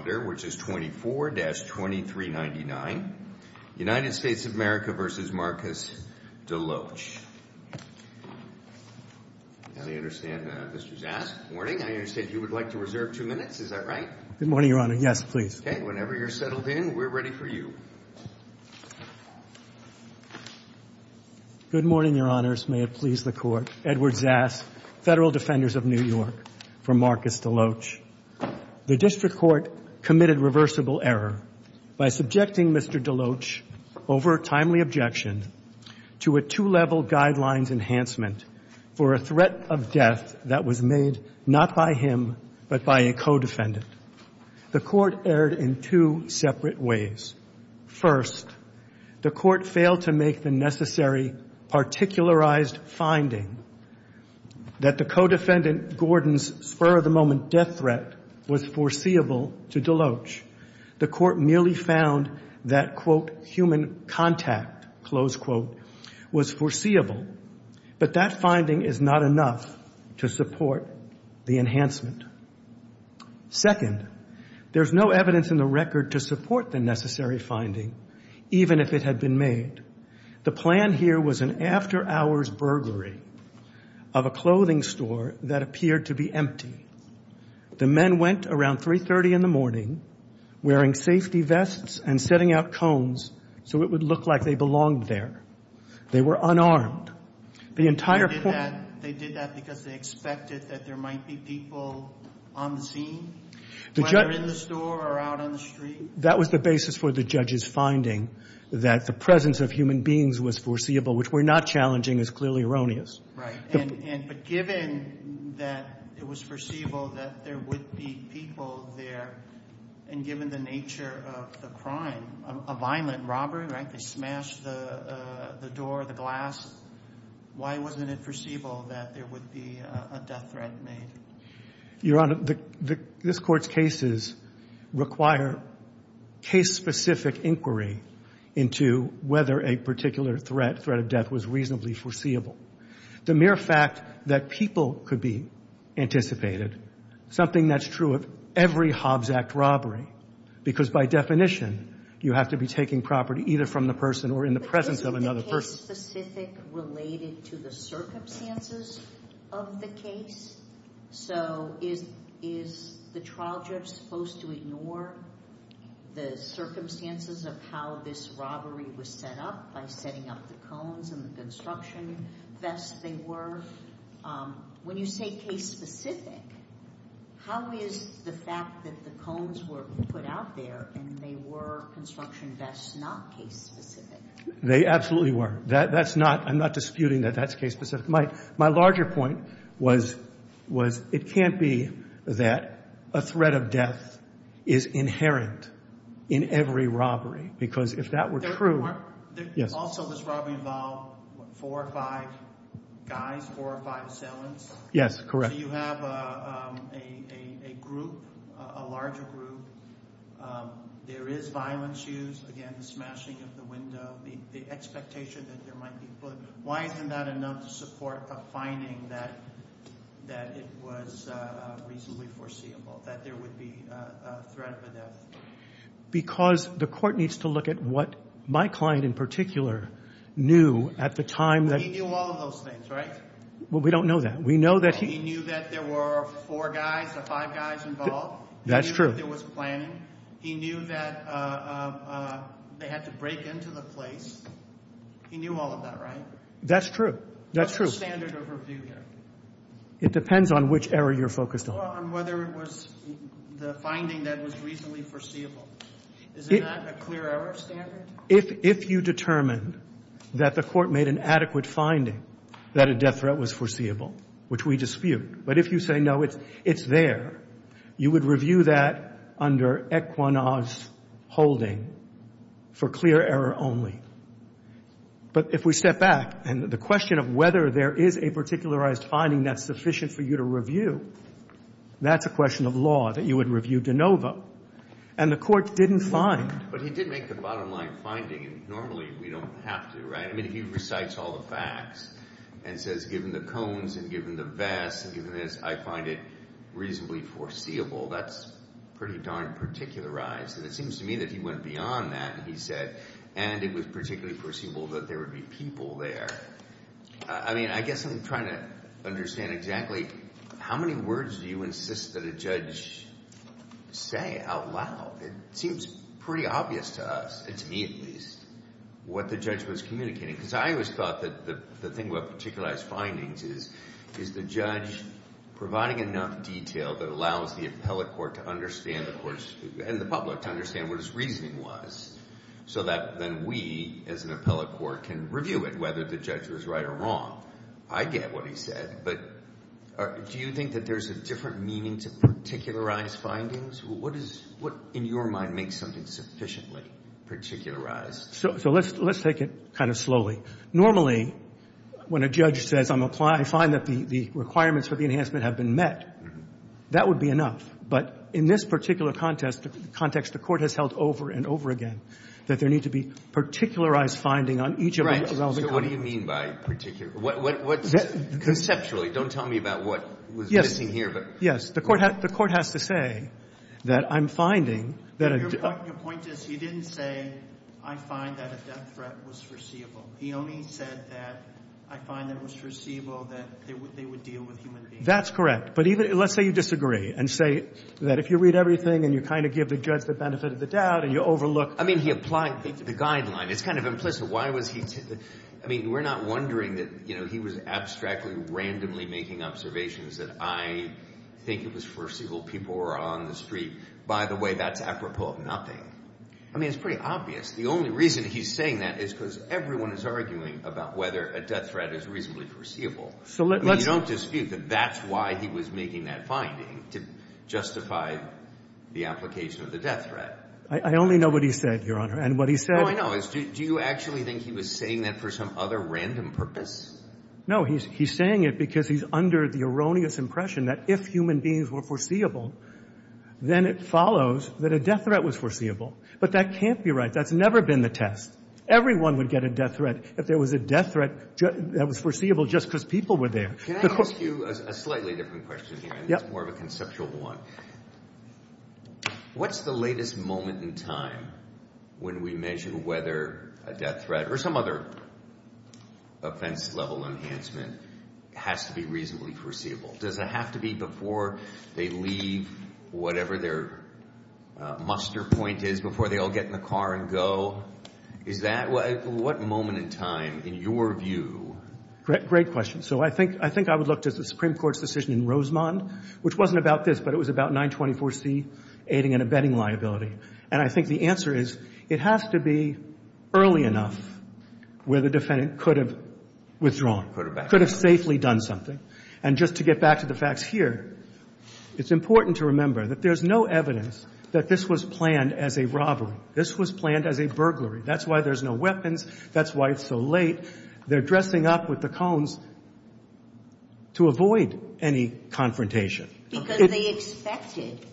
Good morning, Your Honors. May it please the Court. Edward Zas, Federal Defenders of New York, committed reversible error by subjecting Mr. Deloatch, over a timely objection, to a two-level guidelines enhancement for a threat of death that was made not by him but by a co-defendant. The Court erred in two separate ways. First, the Court failed to make the necessary particularized finding that the co-defendant Gordon's spur-of-the-moment death threat was foreseeable to Deloatch. The Court merely found that, quote, human contact, close quote, was foreseeable. But that finding is not enough to support the enhancement. Second, there's no evidence in the record to support the necessary finding, even if it had been made. The plan here was an after-hours burglary of a clothing store that appeared to be empty. The men went around 3.30 in the morning, wearing safety vests and setting out cones so it would look like they belonged there. They were unarmed. They did that because they expected that there might be people on the scene, whether in the store or out on the street? That was the basis for the judge's finding, that the presence of human beings was foreseeable, which we're not challenging is clearly erroneous. Right. And but given that it was foreseeable that there would be people there, and given the nature of the crime, a violent robbery, right, they smashed the door, the glass, why wasn't it foreseeable that there would be a death threat made? Your Honor, this Court's cases require case-specific inquiry into whether a particular threat, threat of death, was reasonably foreseeable. The mere fact that people could be anticipated, something that's true of every Hobbs Act robbery, because by definition, you have to be taking property either from the person or in the presence of another person. Is case-specific related to the circumstances of the case? So is the trial judge supposed to ignore the circumstances of how this robbery was set up by setting up the cones and the construction vests they were? When you say case-specific, how is the fact that the cones were put out there and they were construction vests not case-specific? They absolutely were. That's not, I'm not disputing that that's case-specific. My larger point was it can't be that a threat of death is inherent in every robbery, because if that were true… Also, does robbery involve four or five guys, four or five assailants? Yes, correct. So you have a group, a larger group. There is violence used. Again, the smashing of the window, the expectation that there might be… Why isn't that enough to support a finding that it was reasonably foreseeable, that there would be a threat of a death? Because the Court needs to look at what my client in particular knew at the time that… He knew all of those things, right? We don't know that. We know that he… He knew that there were four guys or five guys involved. That's true. He knew that there was planning. He knew that they had to break into the place. He knew all of that, right? That's true. That's true. What's the standard of review here? It depends on which area you're focused on. Well, on whether it was the finding that was reasonably foreseeable. Is it not a clear error standard? If you determined that the Court made an adequate finding that a death threat was foreseeable, which we dispute, but if you say, no, it's there, you would review that under Equinox holding for clear error only. But if we step back and the question of whether there is a particularized finding that's sufficient for you to review, that's a question of law that you would review de novo. And the Court didn't find… But he did make the bottom line finding, and normally we don't have to, right? I mean, he recites all the facts and says, given the cones and given the vests and given this, I find it reasonably foreseeable. That's pretty darn particularized. And it seems to me that he went beyond that and he said, and it was particularly foreseeable that there would be people there. I mean, I guess I'm trying to understand exactly how many words do you insist that a judge say out loud? It seems pretty obvious to us, and to me at least, what the judge was communicating. Because I always thought that the thing about particularized findings is the judge providing enough detail that allows the appellate court to understand, of course, and the public to understand what his reasoning was, so that then we, as an appellate court, can review it, whether the judge was right or wrong. I get what he said, but do you think that there's a different meaning to particularized findings? What, in your mind, makes something sufficiently particularized? So let's take it kind of slowly. Normally, when a judge says, I find that the requirements for the enhancement have been met, that would be enough. But in this particular context, the court has held over and over again that there needs to be particularized finding on each of the relevant components. So what do you mean by particular? Conceptually, don't tell me about what was missing here. Yes, the court has to say that I'm finding that a- Your point is, he didn't say, I find that a death threat was foreseeable. He only said that I find that it was foreseeable that they would deal with human beings. That's correct. But let's say you disagree and say that if you read everything and you kind of give the judge the benefit of the doubt and you overlook- I mean, he applied the guideline. It's kind of implicit. I mean, we're not wondering that, you know, he was abstractly, randomly making observations that I think it was foreseeable people were on the street. By the way, that's apropos of nothing. I mean, it's pretty obvious. The only reason he's saying that is because everyone is arguing about whether a death threat is reasonably foreseeable. So let's- You don't dispute that that's why he was making that finding, to justify the application of the death threat. I only know what he said, Your Honor. And what he said- All I know is do you actually think he was saying that for some other random purpose? He's saying it because he's under the erroneous impression that if human beings were foreseeable, then it follows that a death threat was foreseeable. But that can't be right. That's never been the test. Everyone would get a death threat if there was a death threat that was foreseeable just because people were there. Can I ask you a slightly different question here? Yeah. It's more of a conceptual one. What's the latest moment in time when we measure whether a death threat or some other offense-level enhancement has to be reasonably foreseeable? Does it have to be before they leave whatever their muster point is, before they all get in the car and go? Is that- What moment in time, in your view- Great question. So I think I would look to the Supreme Court's decision in Rosemond, which wasn't about this, but it was about 924C, aiding and abetting liability. And I think the answer is it has to be early enough where the defendant could have withdrawn, could have safely done something. And just to get back to the facts here, it's important to remember that there's no evidence that this was planned as a robbery. This was planned as a burglary. That's why there's no weapons. That's why it's so late. They're dressing up with the cones to avoid any confrontation. Because they expected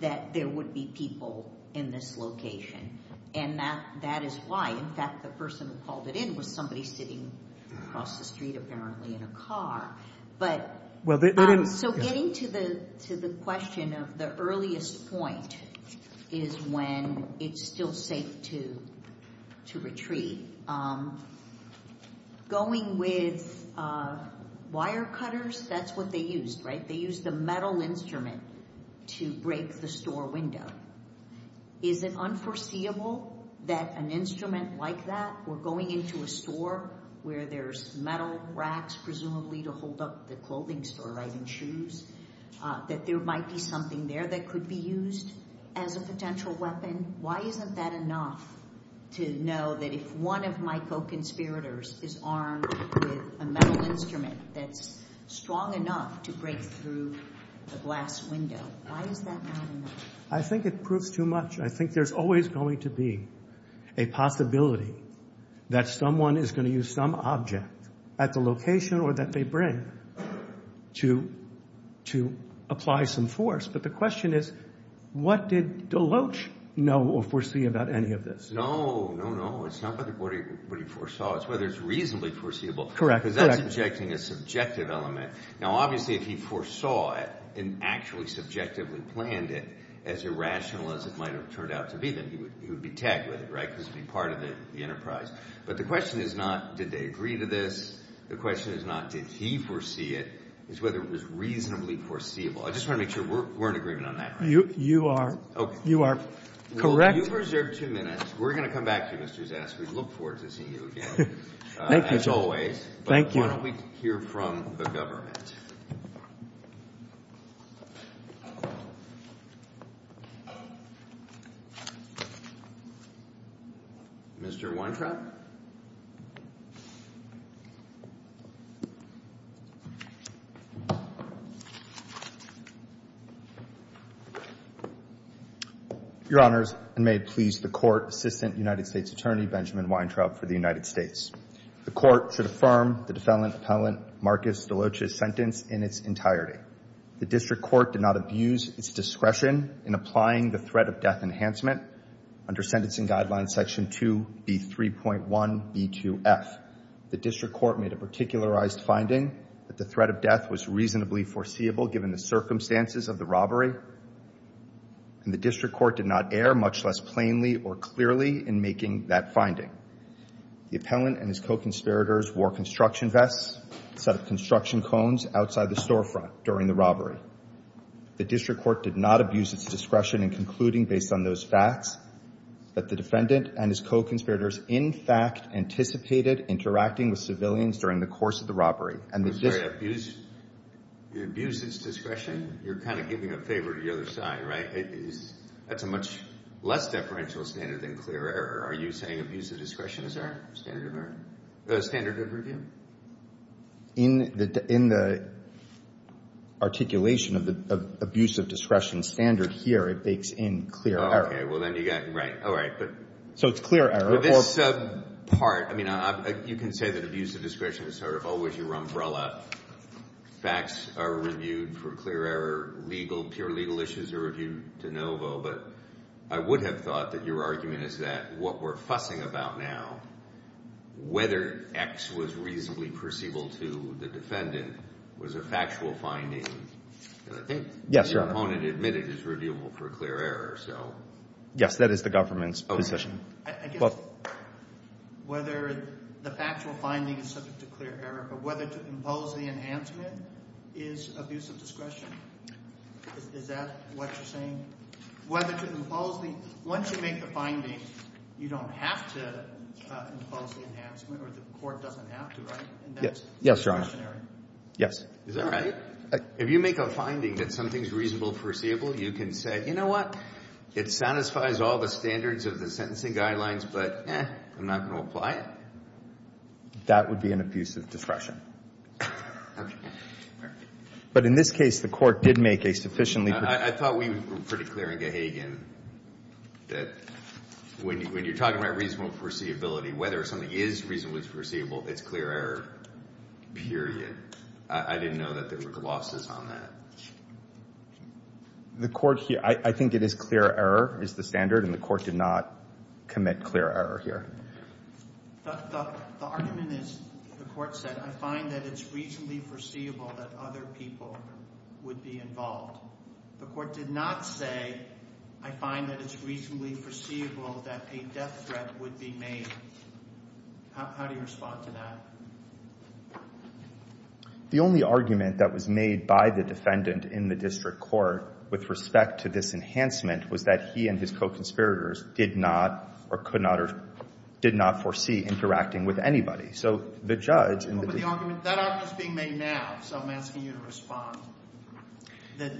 that there would be people in this location, and that is why. In fact, the person who called it in was somebody sitting across the street, apparently, in a car. So getting to the question of the earliest point is when it's still safe to retreat. Going with wire cutters, that's what they used, right? They used a metal instrument to break the store window. Is it unforeseeable that an instrument like that, or going into a store where there's metal racks presumably to hold up the clothing store, right, and shoes, that there might be something there that could be used as a potential weapon? Why isn't that enough to know that if one of my co-conspirators is armed with a metal instrument that's strong enough to break through a glass window, why is that not enough? I think it proves too much. I think there's always going to be a possibility that someone is going to use some object at the location or that they bring to apply some force. But the question is what did Deloach know or foresee about any of this? No, no, no. It's not what he foresaw. It's whether it's reasonably foreseeable. Correct. Because that's subjecting a subjective element. Now, obviously, if he foresaw it and actually subjectively planned it as irrational as it might have turned out to be, then he would be tagged with it, right, because he'd be part of the enterprise. But the question is not did they agree to this. The question is not did he foresee it. It's whether it was reasonably foreseeable. I just want to make sure we're in agreement on that. You are. Okay. You are correct. Well, you've reserved two minutes. We're going to come back to you, Mr. Zask. We look forward to seeing you again. Thank you, Joe. As always. Thank you. Now, why don't we hear from the government? Mr. Weintraub? Your Honors, and may it please the Court, Assistant United States Attorney Benjamin Weintraub for the United States. The Court should affirm the defendant Appellant Marcus DeLoach's sentence in its entirety. The District Court did not abuse its discretion in applying the threat of death enhancement under Sentencing Guidelines Section 2B3.1b2f. The District Court made a particularized finding that the threat of death was reasonably foreseeable given the circumstances of the robbery, and the District Court did not err much less plainly or clearly in making that finding. The appellant and his co-conspirators wore construction vests, a set of construction cones outside the storefront during the robbery. The District Court did not abuse its discretion in concluding, based on those facts, that the defendant and his co-conspirators in fact anticipated interacting with civilians during the course of the robbery. I'm sorry. Abuse its discretion? You're kind of giving a favor to the other side, right? That's a much less deferential standard than clear error. Are you saying abuse of discretion is our standard of review? In the articulation of the abuse of discretion standard here, it bakes in clear error. Okay. Well, then you got it right. So it's clear error. Well, this part, I mean, you can say that abuse of discretion is sort of always your umbrella. Facts are reviewed for clear error. Legal, pure legal issues are reviewed de novo. But I would have thought that your argument is that what we're fussing about now, whether X was reasonably perceivable to the defendant, was a factual finding. And I think the opponent admitted it's reviewable for clear error. Yes, that is the government's position. I guess whether the factual finding is subject to clear error, but whether to impose the enhancement is abuse of discretion. Is that what you're saying? Whether to impose the — once you make the finding, you don't have to impose the enhancement, or the court doesn't have to, right? Yes, Your Honor. Yes. Is that right? If you make a finding that something's reasonable perceivable, you can say, you know what? It satisfies all the standards of the sentencing guidelines, but I'm not going to apply it. That would be an abuse of discretion. Okay. Fair. But in this case, the court did make a sufficiently — I thought we were pretty clear in Gahagan that when you're talking about reasonable foreseeability, whether something is reasonably foreseeable, it's clear error, period. I didn't know that there were glosses on that. The court — I think it is clear error is the standard, and the court did not commit clear error here. The argument is the court said, I find that it's reasonably foreseeable that other people would be involved. The court did not say, I find that it's reasonably foreseeable that a death threat would be made. How do you respond to that? The only argument that was made by the defendant in the district court with respect to this enhancement was that he and his co-conspirators did not or could not or did not foresee interacting with anybody. So the judge — But the argument — that argument is being made now, so I'm asking you to respond. The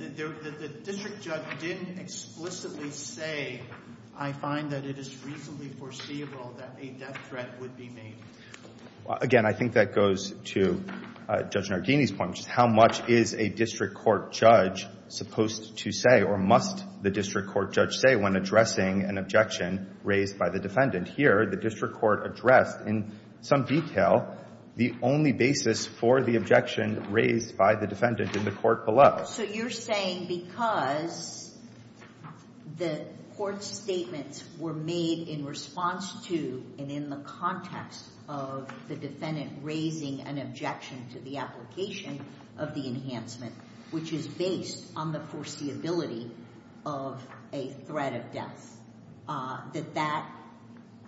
district judge didn't explicitly say, I find that it is reasonably foreseeable that a death threat would be made. Again, I think that goes to Judge Nardini's point, which is how much is a district court judge supposed to say or must the district court judge say when addressing an objection raised by the defendant? Here, the district court addressed in some detail the only basis for the objection raised by the defendant in the court below. So you're saying because the court's statements were made in response to and in the context of the defendant raising an objection to the application of the enhancement, which is based on the foreseeability of a threat of death, that that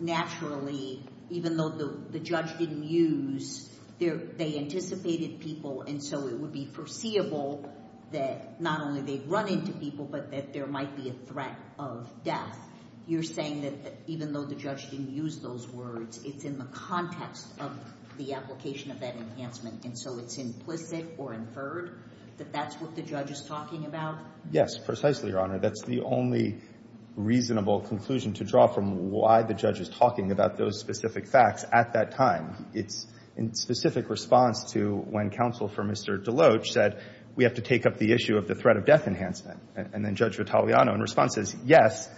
naturally, even though the judge didn't use — they anticipated people, and so it would be foreseeable that not only they'd run into people, but that there might be a threat of death. You're saying that even though the judge didn't use those words, it's in the context of the application of that enhancement, and so it's implicit or inferred that that's what the judge is talking about? Yes, precisely, Your Honor. That's the only reasonable conclusion to draw from why the judge is talking about those specific facts at that time. It's in specific response to when counsel for Mr. Deloach said, we have to take up the issue of the threat of death enhancement, and then Judge Vitaleano in response says, yes,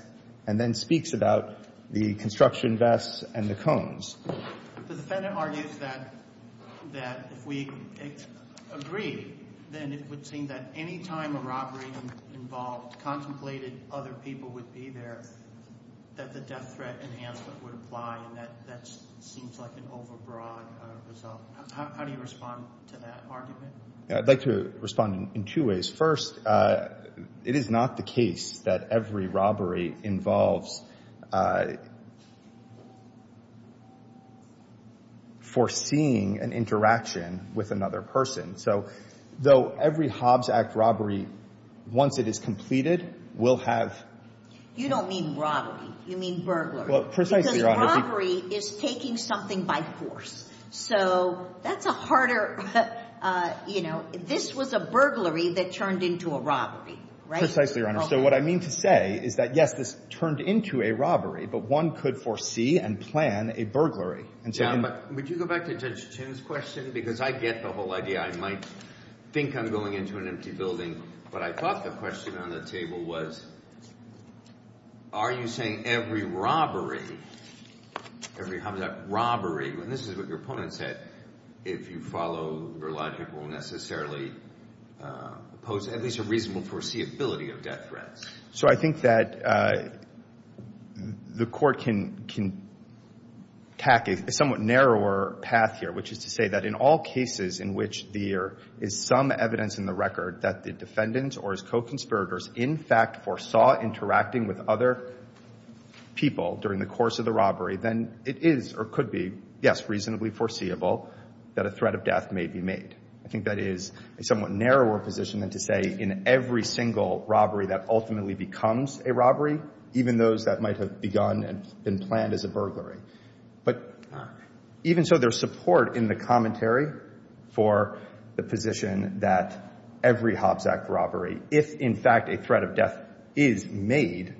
and then speaks about the construction vests and the cones. The defendant argues that if we agree, then it would seem that any time a robbery-involved, contemplated other people would be there, that the death threat enhancement would apply, and that that seems like an overbroad result. How do you respond to that argument? I'd like to respond in two ways. First, it is not the case that every robbery involves foreseeing an interaction with another person. So though every Hobbs Act robbery, once it is completed, will have — You don't mean robbery. You mean burglary. Well, precisely, Your Honor. Because robbery is taking something by force. So that's a harder — you know, this was a burglary that turned into a robbery, right? Precisely, Your Honor. So what I mean to say is that, yes, this turned into a robbery, but one could foresee and plan a burglary. Yeah, but would you go back to Judge Chin's question? Because I get the whole idea. I might think I'm going into an empty building, but I thought the question on the table was, are you saying every robbery, every Hobbs Act robbery, and this is what your opponent said, if you follow your logic, will necessarily pose at least a reasonable foreseeability of death threats? So I think that the court can tack a somewhat narrower path here, which is to say that in all cases in which there is some evidence in the record that the defendant or his co-conspirators in fact foresaw interacting with other people during the course of the robbery, then it is or could be, yes, reasonably foreseeable that a threat of death may be made. I think that is a somewhat narrower position than to say in every single robbery that ultimately becomes a robbery, even those that might have begun and been planned as a burglary. But even so, there's support in the commentary for the position that every Hobbs Act robbery, if in fact a threat of death is made,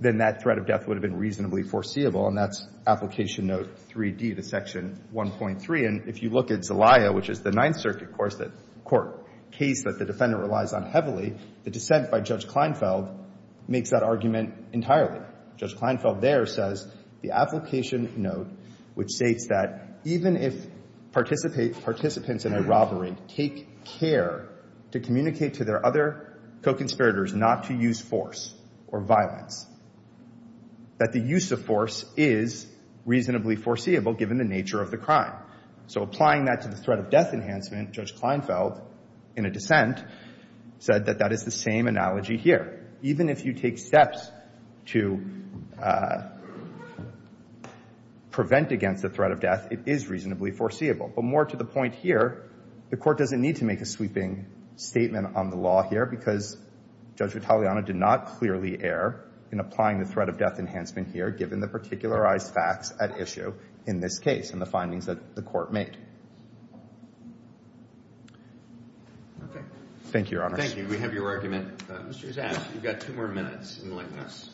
then that threat of death would have been reasonably foreseeable, and that's Application Note 3D to Section 1.3. And if you look at Zelaya, which is the Ninth Circuit court case that the defendant relies on heavily, the dissent by Judge Kleinfeld makes that argument entirely. Judge Kleinfeld there says the application note, which states that even if participants in a robbery take care to communicate to their other co-conspirators not to use force or violence, that the use of force is reasonably foreseeable given the nature of the crime. So applying that to the threat of death enhancement, Judge Kleinfeld, in a dissent, said that that is the same analogy here. Even if you take steps to prevent against the threat of death, it is reasonably foreseeable. But more to the point here, the Court doesn't need to make a sweeping statement on the law here because Judge Vitaleano did not clearly err in applying the threat of death enhancement here given the particularized facts at issue in this case and the findings that the Court made. Okay. Thank you, Your Honors. Thank you. We have your argument. Mr. Zask, you've got two more minutes in the likeness.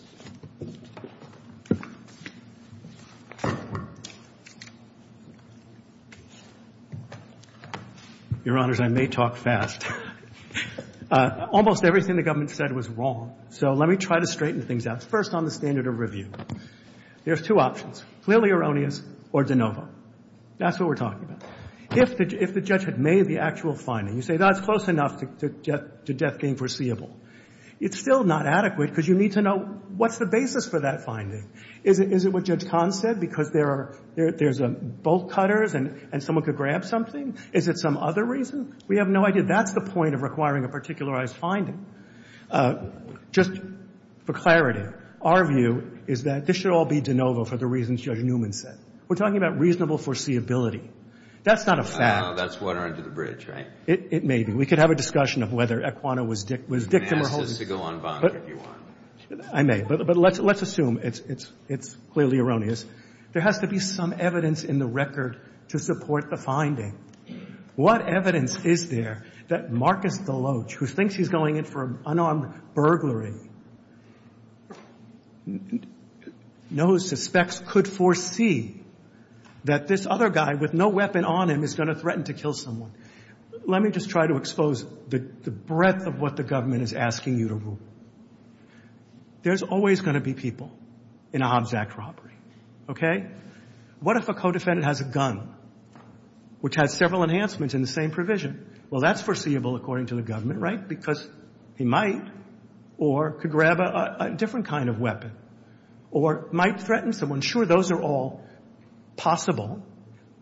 Your Honors, I may talk fast. Almost everything the government said was wrong. So let me try to straighten things out. First on the standard of review, there's two options, clearly erroneous or de novo. That's what we're talking about. If the judge had made the actual finding, you say that's close enough to death being foreseeable. It's still not adequate because you need to know what's the basis for that finding. Is it what Judge Kahn said because there's bolt cutters and someone could grab something? Is it some other reason? We have no idea. That's the point of requiring a particularized finding. Just for clarity, our view is that this should all be de novo for the reasons Judge Newman said. We're talking about reasonable foreseeability. That's not a fact. I know. That's water under the bridge, right? It may be. We could have a discussion of whether Aquana was victim or holden. You can ask us to go on bond if you want. I may. But let's assume it's clearly erroneous. There has to be some evidence in the record to support the finding. What evidence is there that Marcus Deloach, who thinks he's going in for an unarmed burglary, knows, suspects, could foresee that this other guy with no weapon on him is going to threaten to kill someone? Let me just try to expose the breadth of what the government is asking you to rule. There's always going to be people in a Hobbs Act robbery. Okay? What if a co-defendant has a gun, which has several enhancements in the same provision? Well, that's foreseeable, according to the government, right? Because he might or could grab a different kind of weapon or might threaten someone. Sure, those are all possible,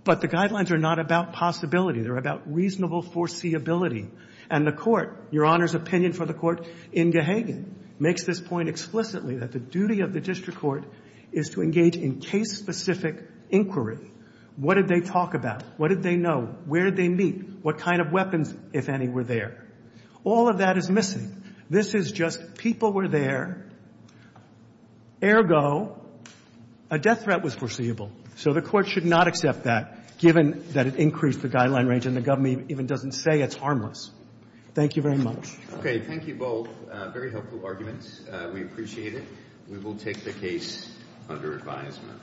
but the guidelines are not about possibility. They're about reasonable foreseeability. And the Court, Your Honor's opinion for the Court in Gahagan, makes this point explicitly that the duty of the district court is to engage in case-specific inquiry. What did they talk about? What did they know? Where did they meet? What kind of weapons, if any, were there? All of that is missing. This is just people were there. Ergo, a death threat was foreseeable. So the Court should not accept that, given that it increased the guideline range and the government even doesn't say it's harmless. Thank you very much. Okay. Thank you both. Very helpful arguments. We appreciate it. We will take the case under advisement.